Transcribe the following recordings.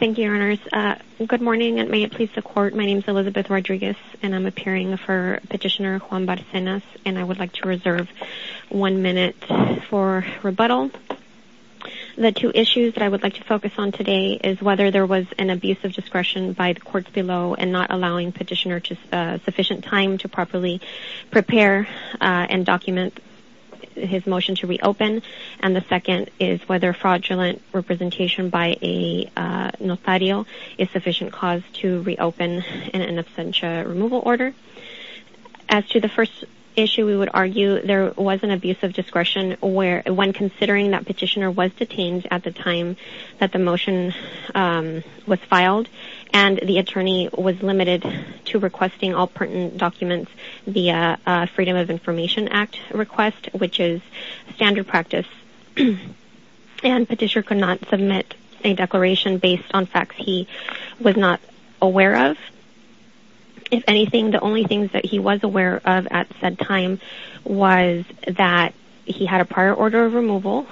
Thank you, Your Honours. Good morning and may it please the Court. My name is Elizabeth Rodriguez and I'm appearing for Petitioner Juan Barcenas and I would like to reserve one minute for rebuttal. The two issues that I would like to focus on today is whether there was an abuse of discretion by the Courts below and not allowing Petitioner sufficient time to properly prepare and document his motion to reopen, and the second is whether fraudulent representation by a notario is sufficient cause to reopen in an absentia removal order. As to the first issue, we would argue there was an abuse of discretion when considering that Petitioner was detained at the time that the motion was filed and the Attorney was limited to requesting all pertinent documents via Freedom of Information Act request, which is practice and Petitioner could not submit a declaration based on facts he was not aware of. If anything, the only things that he was aware of at that time was that he had a prior order of removal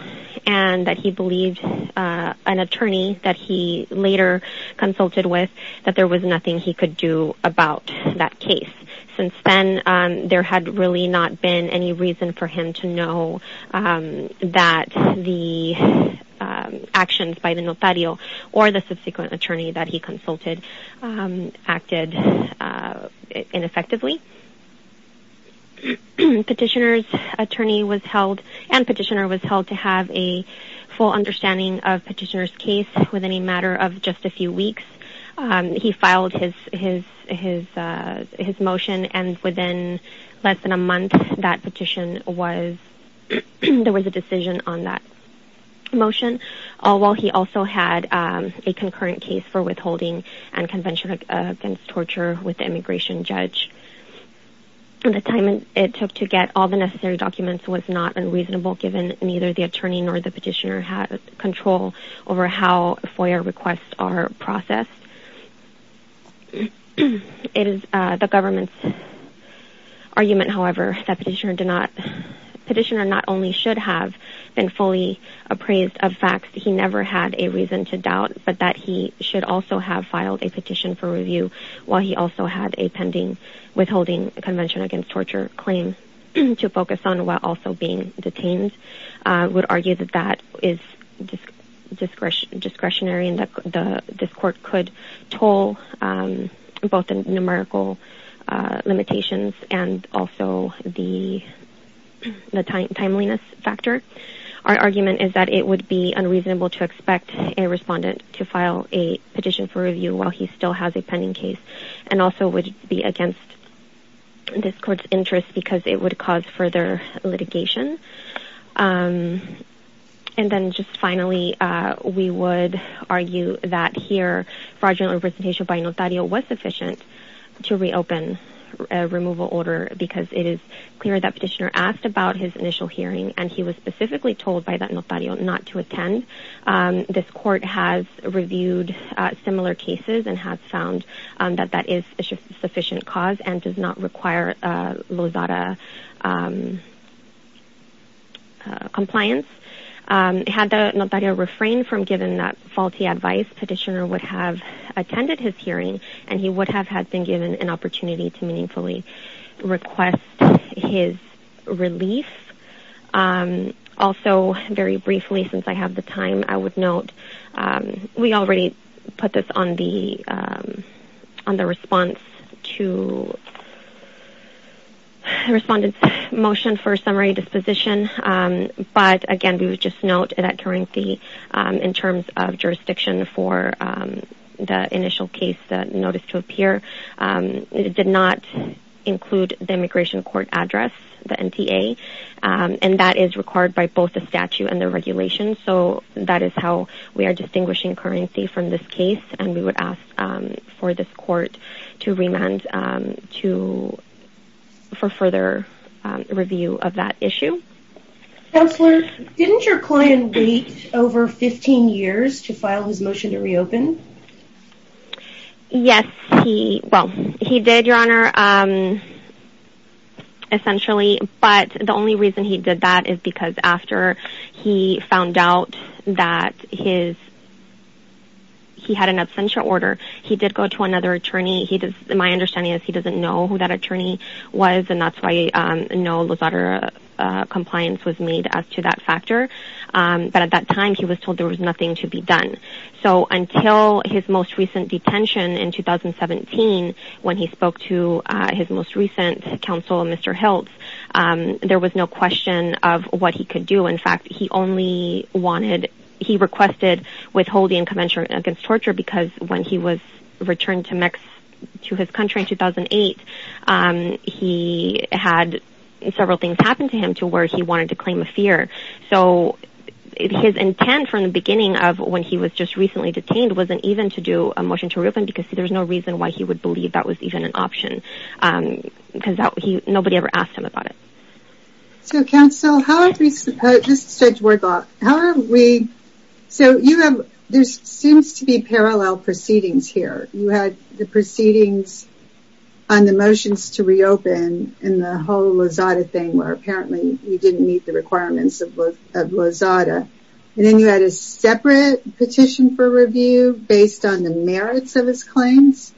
and that he believed an Attorney that he later consulted with that there was nothing he that the actions by the notario or the subsequent Attorney that he consulted acted ineffectively. Petitioner's Attorney was held and Petitioner was held to have a full understanding of Petitioner's case within a matter of just a few weeks. He filed his motion and within less than a month that petition was there was a decision on that motion, all while he also had a concurrent case for withholding and convention against torture with the immigration judge. The time it took to get all the necessary documents was not unreasonable given neither the Attorney nor the Petitioner had control over how FOIA requests are processed. It is the government's that Petitioner did not Petitioner not only should have been fully appraised of facts, he never had a reason to doubt, but that he should also have filed a petition for review while he also had a pending withholding convention against torture claim to focus on while also being detained. I would argue that that is discretionary and that this court could toll both the numerical limitations and also the timeliness factor. Our argument is that it would be unreasonable to expect a respondent to file a petition for review while he still has a pending case and also would be against this court's interest because it would cause further litigation. And then just finally we would argue that here fraudulent representation by Notario was sufficient to reopen a removal order because it is clear that Petitioner asked about his initial hearing and he was specifically told by that Notario not to attend. This court has reviewed similar cases and has found that that is a sufficient cause and does not require Losada compliance. Had the Notario refrained from giving that faulty advice, Petitioner would have attended his hearing and he would have had been given an opportunity to meaningfully request his relief. Also very briefly since I have the time, I would note we already put this on the response to respondent's motion for summary disposition but again we would just note that currency in terms of jurisdiction for the initial case that noticed to appear did not include the immigration court address the NTA and that is required by both the statute and the regulations so that is how we are distinguishing currency from this case and we would ask for this court to remand to for further review of that issue. Counselor didn't your client wait over 15 years to file his motion to reopen? Yes he well he did your honor essentially but the only reason he did that is because after he found out that his he had an absentia order he did go to another attorney he does my understanding is he doesn't know who that attorney was and that's why no Losada compliance was made as to that factor but at that time he was told there was nothing to be done so until his most recent detention in 2017 when he spoke to his most recent counsel Mr. Hiltz there was no question of what he could do in fact he only wanted he requested withholding incommensurate against torture because when he was returned to Mexico to his country in 2008 he had several things happen to him to where he wanted to claim a fear so his intent from the beginning of when he was just recently detained wasn't even to do a motion to reopen because there's no reason why he would believe that was even an option because that he nobody ever asked him about it. So counsel how are we supposed this is Judge Wardlock how are we so you have there seems to be parallel proceedings here you had the proceedings on the motions to reopen and the whole Losada thing where apparently you didn't meet the requirements of Losada and then you had a separate petition for review based on the merits of his claims?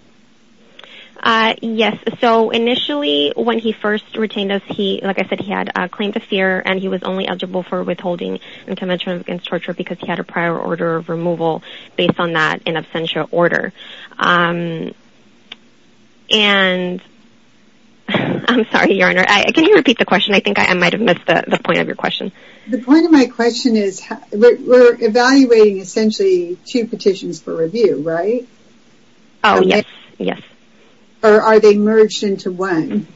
Yes so initially when he first retained us he like I said he had a claim to fear and he was only eligible for withholding incommensurate against torture because he had a prior order of removal based on that in absentia order and I'm sorry your honor I can you repeat the question I think I might have missed the point of your question. The point of my question is we're evaluating essentially two petitions for review right? Oh yes yes. Or are they merged into one?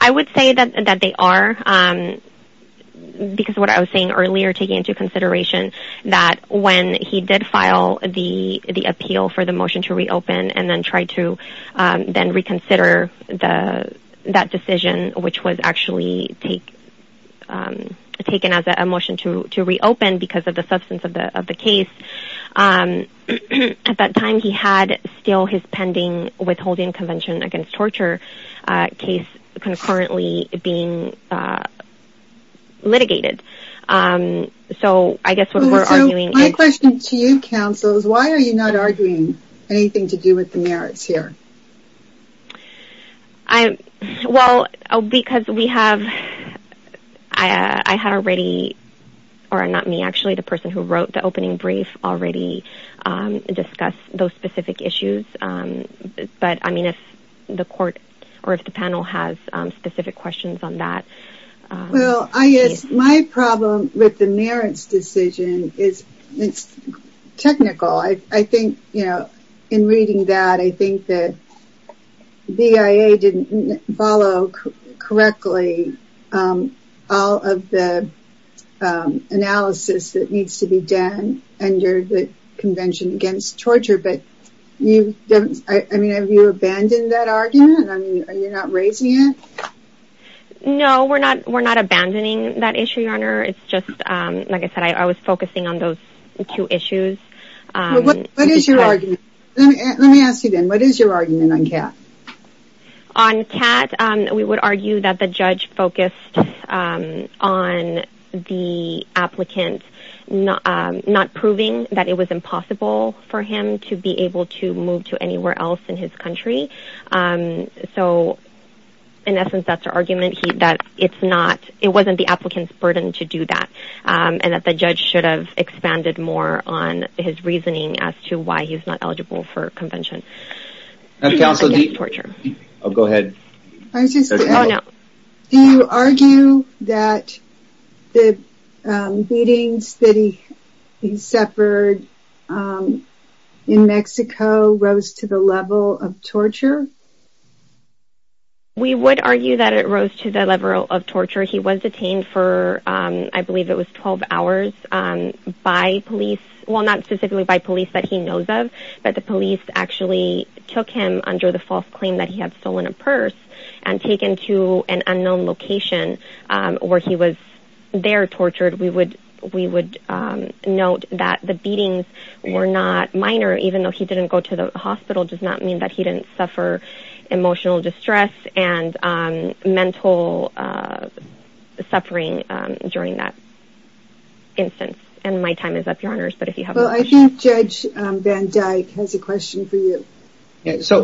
I would say that that they are because what I was saying earlier taking into consideration that when he did file the the appeal for the motion to reopen and then try to then reconsider the that decision which was actually take taken as a motion to to reopen because of the substance of the of the case at that time he had still his pending withholding convention against torture case concurrently being litigated so I guess what we're arguing. So my question to you counsel is why are you not arguing anything to do with the merits here? I well because we have I had already or not me actually the person who wrote the opening brief already discuss those specific issues but I mean if the court or if the panel has specific questions on that. Well I guess my problem with the merits decision is it's technical I think you know in reading that I think that BIA didn't follow correctly all of the analysis that needs to be done under the convention against torture but you don't I mean have you abandoned that argument? I mean are you not raising it? No we're not we're not abandoning that issue your honor it's just like I said I was focusing on two issues. What is your argument let me ask you then what is your argument on cat? On cat we would argue that the judge focused on the applicant not not proving that it was impossible for him to be able to move to anywhere else in his country so in essence that's our argument that it's not it wasn't the applicant's burden to do that and that the judge should have expanded more on his reasoning as to why he's not eligible for convention. Do you argue that the beatings that he he suffered in Mexico rose to the level of torture? We would argue that it rose to the level of torture he was detained for I believe it was 12 hours by police well not specifically by police that he knows of but the police actually took him under the false claim that he had stolen a purse and taken to an unknown location where he was there tortured we would we would note that the beatings were not minor even though he didn't go to the hospital does not mean that he didn't suffer emotional distress and mental suffering during that instance and my time is up your honors but if you have well I think judge Van Dyck has a question for you. So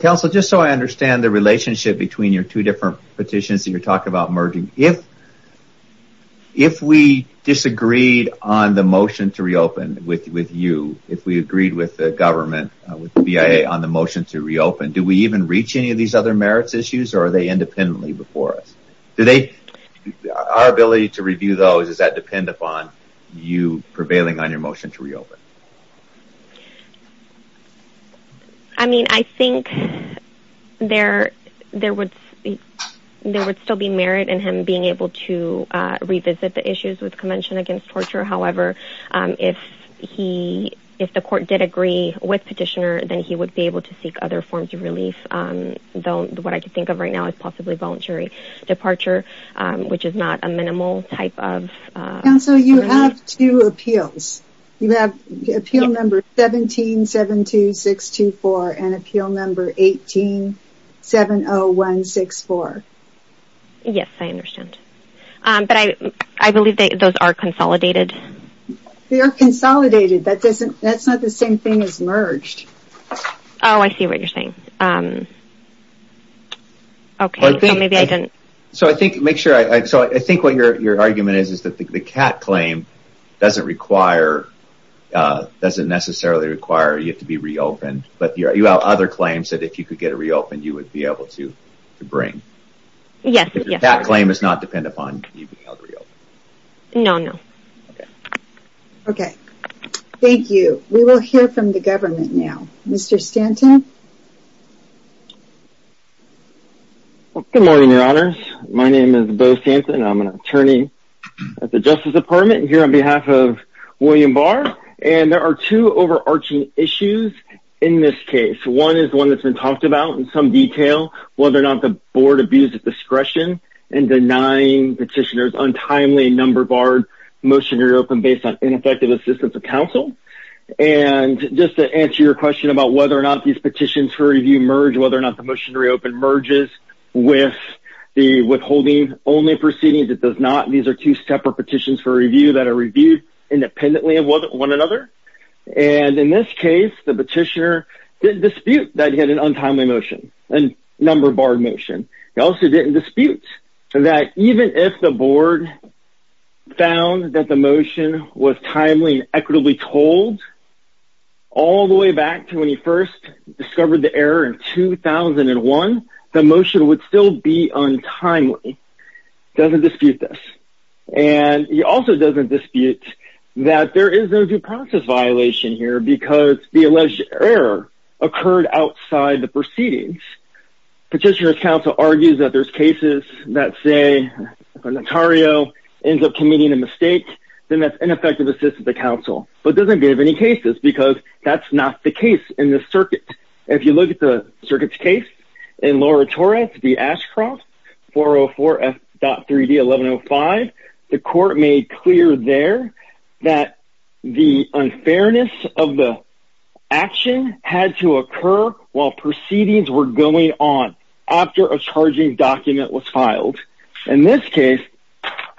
counsel just so I understand the relationship between your two different petitions that you're talking about merging if if we disagreed on the motion to reopen with with you if we agreed with the government with the BIA on the motion to reopen do we even reach any of these other merits issues or are they independently before us do they our ability to review those does that depend upon you prevailing on your motion to reopen? I mean I think there there would there would still be merit in him being able to revisit the issues with convention against torture however if he if the court did agree with petitioner then he would be able to seek other forms of relief though what I could think of right now is possibly voluntary departure which is not a minimal type of. Counsel you have two appeals you have appeal number 17-72624 and appeal number 18-70164. Yes I understand but I believe that those are consolidated. They are consolidated that doesn't that's not the same thing as merged. Oh I see what you're saying um okay so maybe I didn't. So I think make sure I so I think what your your argument is is that the cat claim doesn't require uh doesn't necessarily require you to be reopened but you have other claims that if you could get a reopened you would be able to to bring. Yes that claim does not depend upon you being able to reopen. No no. Okay thank you. We will hear from the government now. Mr. Stanton. Good morning your honors. My name is Bo Stanton. I'm an attorney at the Justice Department here on behalf of William Barr and there are two overarching issues in this case. One is one that's been talked about in some detail whether or not the board abused its discretion in denying petitioners untimely number barred motionary open based on ineffective assistance of counsel. And just to answer your question about whether or not these petitions for review merge whether or not the motionary open merges with the withholding only proceedings it does not. These are two separate petitions for review that are reviewed independently of one another and in this case the petitioner didn't dispute that he had an untimely motion and number barred motion. He also didn't dispute that even if the board found that the motion was timely and equitably told all the way back to when he first discovered the error in 2001 the motion would still be untimely. Doesn't dispute this and he also doesn't dispute that there is no due process violation here because the alleged error occurred outside the proceedings. Petitioner's counsel argues that there's cases that say if an attorney ends up committing a mistake then that's ineffective assistance of counsel but doesn't give any cases because that's not the case in this circuit. If you look at the circuit's case in Laura Torres v. Ashcroft 404.3d 1105 the court made clear there that the unfairness of the action had to occur while proceedings were going on after a charging document was filed. In this case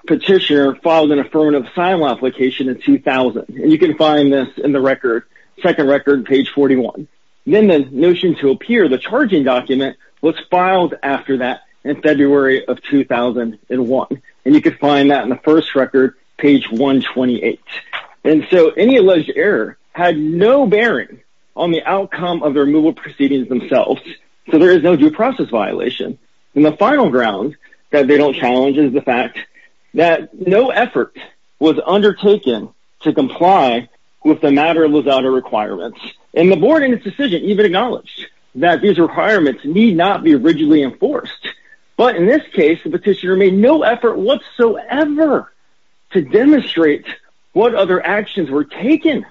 petitioner filed an affirmative asylum application in 2000 and you can find this in the record second record page 41. Then the notion to appear the charging document was filed after that in February of 2001 and you can find that in the first record page 128 and so any alleged error had no bearing on the outcome of the removal proceedings themselves so there is no due process violation and the final ground that they don't challenge is the fact that no effort was undertaken to comply with the matter without a requirement and the board in its decision even acknowledged that these requirements need not be originally enforced but in this case the petitioner made no effort whatsoever to demonstrate what other actions were taken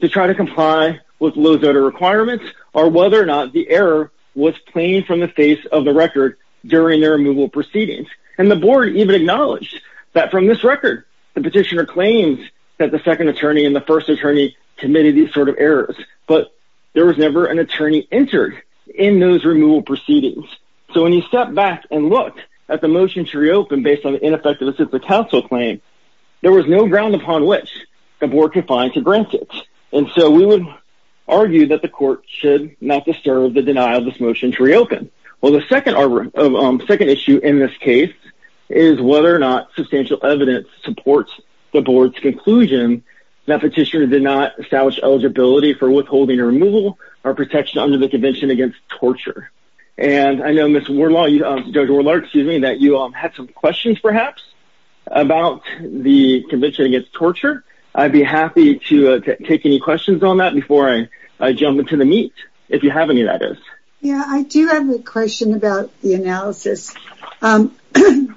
to try to comply with those other requirements or whether or not the error was plain from the face of the record during their removal proceedings and the board even acknowledged that from this record the petitioner claims that the second attorney and the first attorney committed these sort of errors but there was never an attorney entered in those removal proceedings so when you step back and look at the motion to reopen based on the ineffective assistance council claim there was no ground upon which the board could find to grant it and so we would argue that the court should not disturb the denial of this motion to reopen well the second second issue in this case is whether or not substantial evidence supports the board's conclusion that petitioner did not establish eligibility for withholding or removal or protection under the convention against torture and i know miss warlaw you um dr warlord excuse me that you um had some questions perhaps about the convention against torture i'd be happy to take any questions on that before i i jump into the meat if you have any that is yeah i do have a question about the analysis um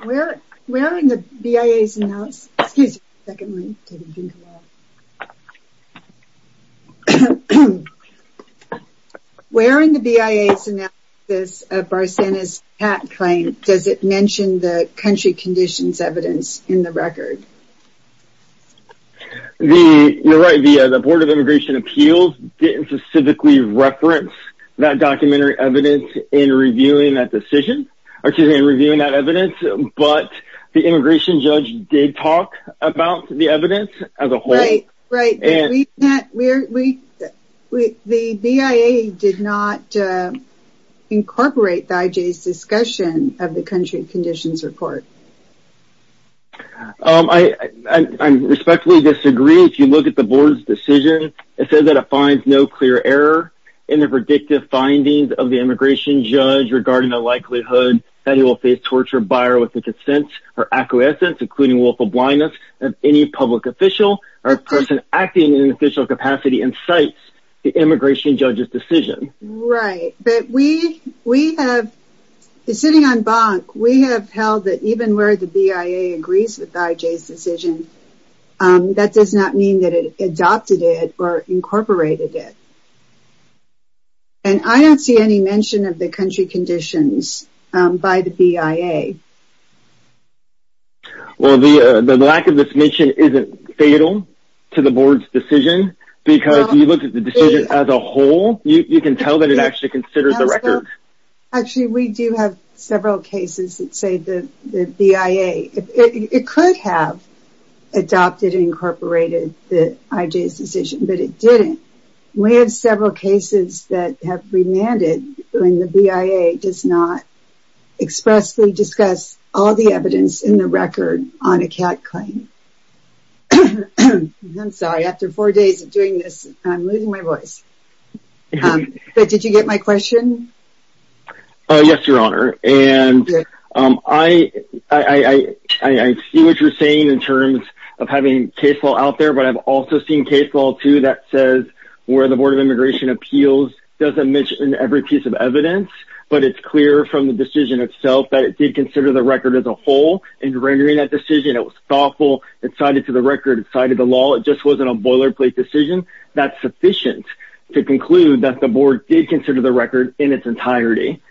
where where in the bias analysis excuse me secondly where in the bias analysis of barcenas hat claim does it mention the country conditions evidence in the record the you're right via the board of immigration appeals didn't specifically reference that documentary evidence in reviewing that decision or in reviewing that evidence but the immigration judge did talk about the evidence as a whole right right and we met where we the bia did not incorporate the ij's discussion of the country conditions report um i i respectfully disagree if you look at the board's decision it says that it finds no clear error in the predictive findings of the immigration judge regarding the likelihood that he will face torture buyer with the consent or acquiescence including willful blindness of any public official or person acting in an official capacity incites the immigration judge's decision right but we we have sitting on bonk we have held that even where the bia agrees with ij's decision that does not mean that it adopted it or incorporated it and i don't see any mention of the country conditions um by the bia well the the lack of this mission isn't fatal to the board's decision because you look at the decision as a whole you you can tell that it actually considers the record actually we do have several cases that say the the bia it could have adopted incorporated the ij's decision but it didn't we have several cases that have remanded when the bia does not expressly discuss all the evidence in the record on a cat claim i'm sorry after four days of doing this i'm losing my voice but did you get my question uh yes your honor and um i i i i see what you're saying in terms of having case law out there but i've also seen case law too that says where the board of immigration appeals doesn't mention every piece of evidence but it's clear from the decision itself that it did consider the record as a whole and rendering that decision it was thoughtful it cited to the record it cited the law it just wasn't a boilerplate decision that's sufficient to conclude that the board did consider the record in its entirety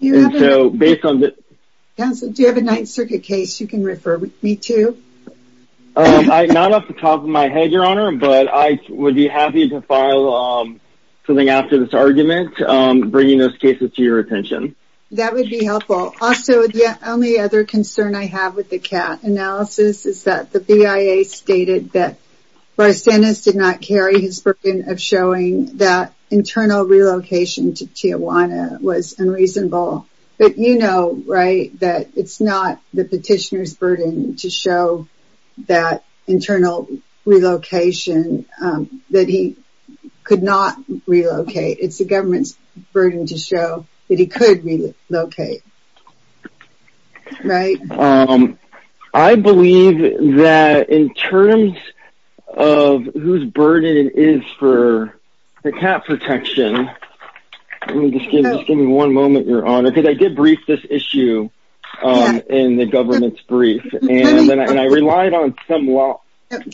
and so based on the do you have a ninth circuit case you can refer me to um i'm not off the top of my head your honor but i would be happy to file um something after this argument um bringing those cases to your attention that would be helpful also the only other concern i have with the cat analysis is that the bia stated that barcenas did not carry his burden of showing that internal relocation to tijuana was unreasonable but you know right that it's not the petitioner's burden to show that internal relocation um that he could not relocate it's the government's burden to show that he could relocate right um i believe that in terms of whose burden it is for the cat protection let me just give you just give me one moment your honor because i did brief this issue um in the government's brief and then i relied on some law let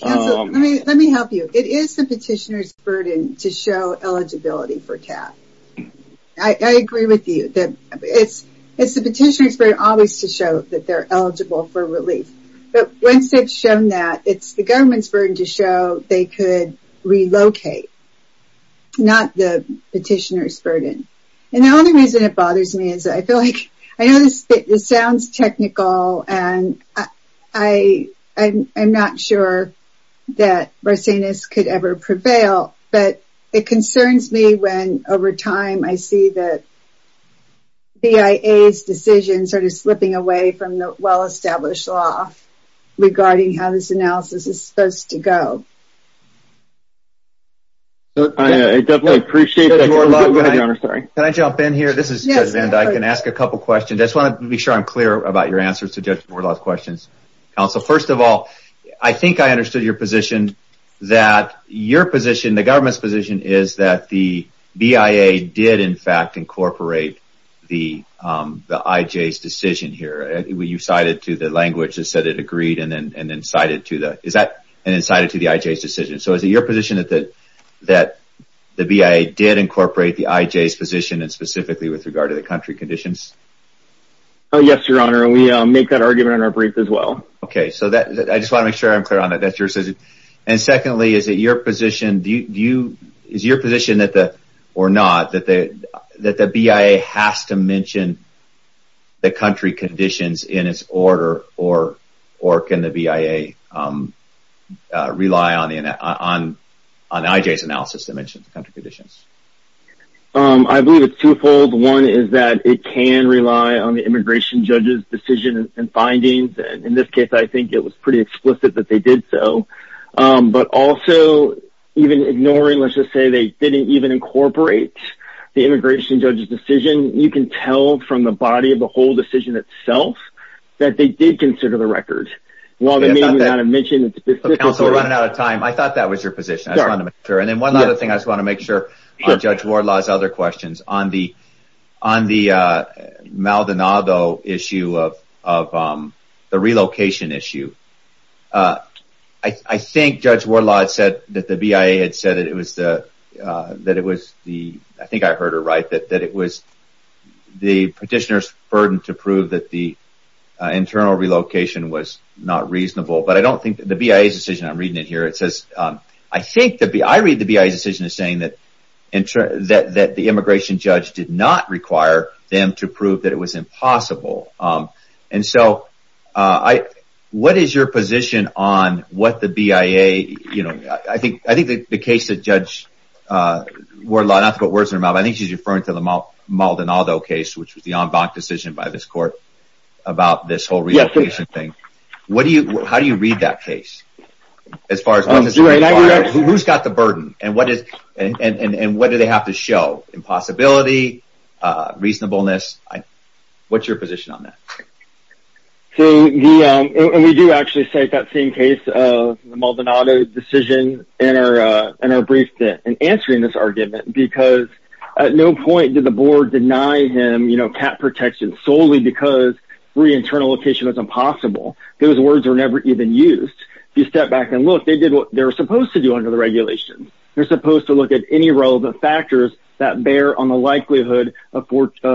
me help you it is the petitioner's burden to show eligibility for cat i i agree with you that it's it's the petitioner's burden always to show that they're eligible for relief but once they've shown that it's the government's burden to show they could relocate not the petitioner's burden and the other reason it bothers me is i feel like i know this this sounds technical and i i i'm not sure that barcenas could ever prevail but it concerns me when over time i see that bia's decision sort of slipping away from the well-established law regarding how this analysis is supposed to go i i definitely appreciate that your honor sorry can i jump in here this is yes and i can ask a couple questions i just want to be sure i'm clear about your answers to judge wardlaw's questions counsel first of all i think i understood your position that your position the government's position is that the bia did in fact incorporate the um the ij's decision here you cited to the language that said it agreed and then and then cited to the is that and then cited to the ij's decision so is it your position that that that the bia did incorporate the ij's position and specifically with regard to the country conditions oh yes your honor we make that argument in our brief as well okay so that i just want to make sure i'm clear on that that's your decision and secondly is that your position do you do you is your position that the or not that the bia has to mention the country conditions in its order or or can the bia rely on the on on ij's analysis that mentions the country conditions um i believe it's twofold one is that it can rely on the immigration judge's decision and findings and in this case i think it was pretty explicit that they did so but also even ignoring let's say they didn't even incorporate the immigration judge's decision you can tell from the body of the whole decision itself that they did consider the record while they may not have mentioned counsel running out of time i thought that was your position i just wanted to make sure and then one other thing i just want to make sure judge warlaw's other questions on the on the uh maldonado issue of of um the relocation issue uh i i think judge warlaw said that the bia had said that it was the uh that it was the i think i heard her right that that it was the petitioner's burden to prove that the internal relocation was not reasonable but i don't think the bia's decision i'm reading it here it says um i think the b i read the bia's decision is saying that that that the immigration judge did not require them to prove that it was impossible um and so uh i what is your position on what the bia you know i think i think the case that judge uh warlaw not to put words in her mouth i think she's referring to the maldonado case which was the en banc decision by this court about this whole relocation thing what do you how do you read that case as far as who's got the burden and what is and and and what do they have to show impossibility uh reasonableness i what's your position on that so the um and we do actually cite that same case of the maldonado decision in our uh in our brief that in answering this argument because at no point did the board deny him you know cat protection solely because re-internal location was impossible those words were never even used if you step back and look they did what they're supposed to do under the regulations they're supposed to look at any relevant factors that bear on the likelihood of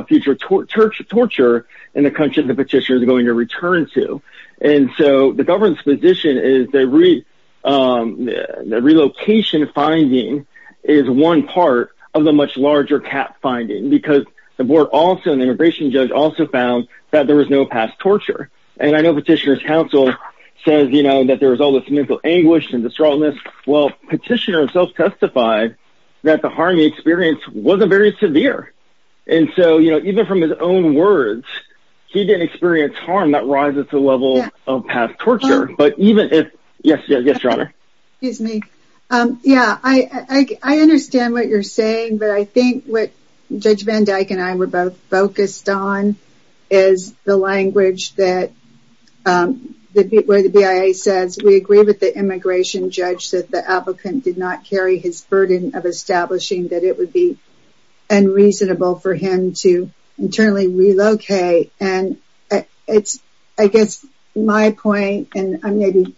future torture torture in the country the petitioner is going to return to and so the government's position is the re um the relocation finding is one part of the much larger cat finding because the board also an immigration judge also found that there was no past torture and i know petitioner's counsel says you know that there the experience wasn't very severe and so you know even from his own words he didn't experience harm that rises to the level of past torture but even if yes yes your honor excuse me um yeah i i i understand what you're saying but i think what judge van dyke and i were both focused on is the language that um the where the bia says we agree with the immigration judge that the applicant did not carry his burden of establishing that it would be unreasonable for him to internally relocate and it's i guess my point and i'm maybe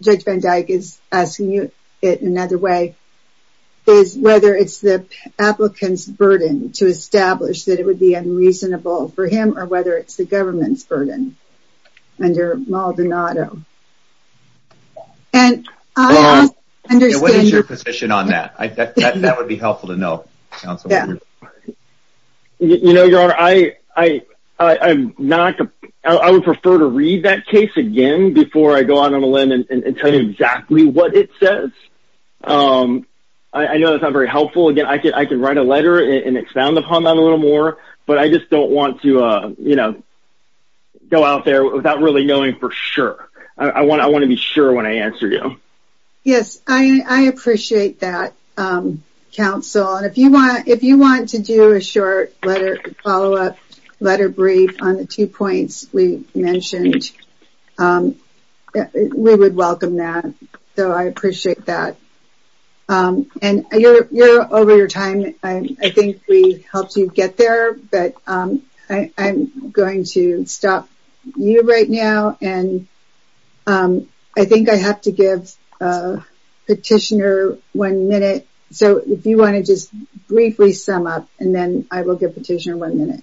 judge van dyke is asking you it another way is whether it's the applicant's burden to establish that it would be unreasonable for him or whether it's the that that would be helpful to know council yeah you know your honor i i i'm not i would prefer to read that case again before i go out on a limb and tell you exactly what it says um i know that's not very helpful again i could i could write a letter and expound upon that a little more but i just don't want to uh you know go out there without really knowing for sure i um council and if you want if you want to do a short letter follow-up letter brief on the two points we mentioned um we would welcome that so i appreciate that um and you're you're over your time i i think we helped you get there but um i i'm going to stop you right now and um i think i have to give a petitioner one minute so if you want to just briefly sum up and then i will give petitioner one minute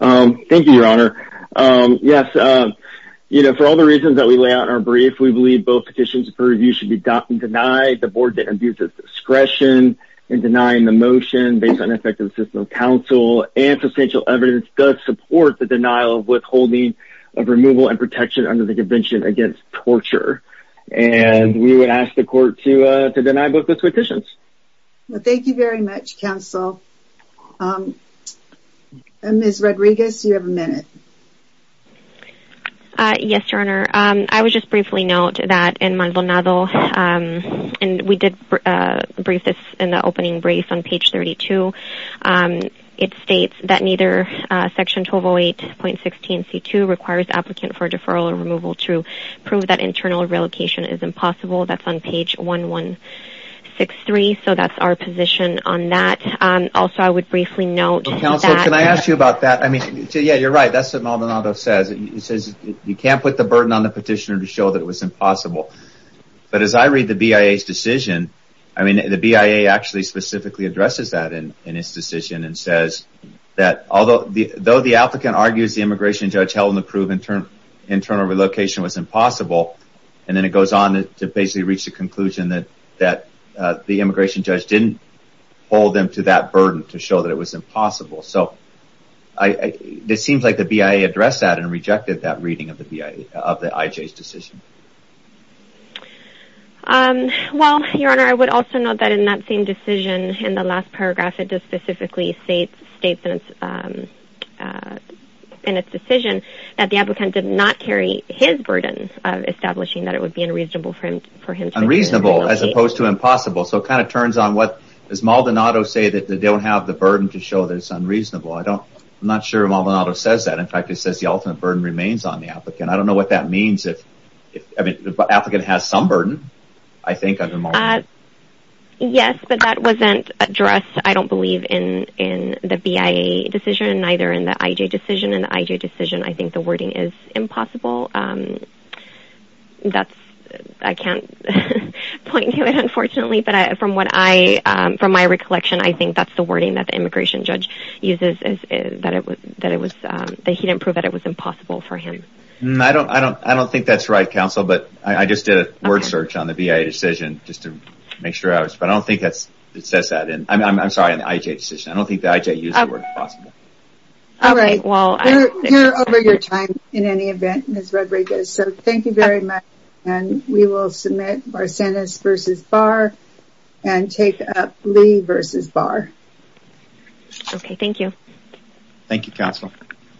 um thank you your honor um yes um you know for all the reasons that we lay out in our brief we believe both petitions for review should be docked and denied the board that abuses discretion in denying the motion based on effective system of counsel and substantial evidence does support the denial of withholding of removal and protection under the convention against torture and we would ask the court to uh to deny both those petitions well thank you very much counsel um and miss rodriguez you have a minute uh yes your honor um i was just briefly note that in maldonado um and we did uh brief this in the opening brief on page 32 um it states that neither uh section 1208.16 c2 requires applicant for deferral or removal to prove that internal relocation is impossible that's on page 1163 so that's our position on that um also i would briefly note counsel can i ask you about that i mean yeah you're right that's what maldonado says he says you can't put the burden on the petitioner to show that it was impossible but as i read the bia's decision i mean the bia actually specifically addresses that in his decision and says that although the though the applicant argues the immigration judge held in the proven term internal relocation was impossible and then it goes on to basically reach the conclusion that that uh the immigration judge didn't hold them to that burden to show that it was impossible so i it seems like the bia addressed that and rejected that reading of the bia of the ij's decision um well your honor i would also note that in that same decision in the last paragraph it just specifically states states in its um uh in its decision that the applicant did not carry his burden of establishing that it would be unreasonable for him for him unreasonable as opposed to impossible so it kind of turns on what does maldonado say that they don't have the burden to show that it's unreasonable i don't i'm not sure maldonado says that in fact it says the ultimate burden remains on the applicant i don't know what that means if i mean the applicant has some burden i think uh yes but that wasn't addressed i don't believe in in the bia decision neither in the ij decision and the ij decision i think the wording is impossible um that's i can't point to it unfortunately but from what i um from my recollection i think that's the wording that the immigration judge uses is that it was that it was that he didn't prove that it was impossible for him i don't i don't i don't think that's right counsel but i just did a word search on the bia decision just to make sure i was but i don't think that's it says that in i'm sorry in the ij decision i don't think the ij used the word impossible all right well you're over your time in any event miss rodriguez so thank you very much and we will submit our sentence versus bar and take up lee versus bar okay thank you thank you you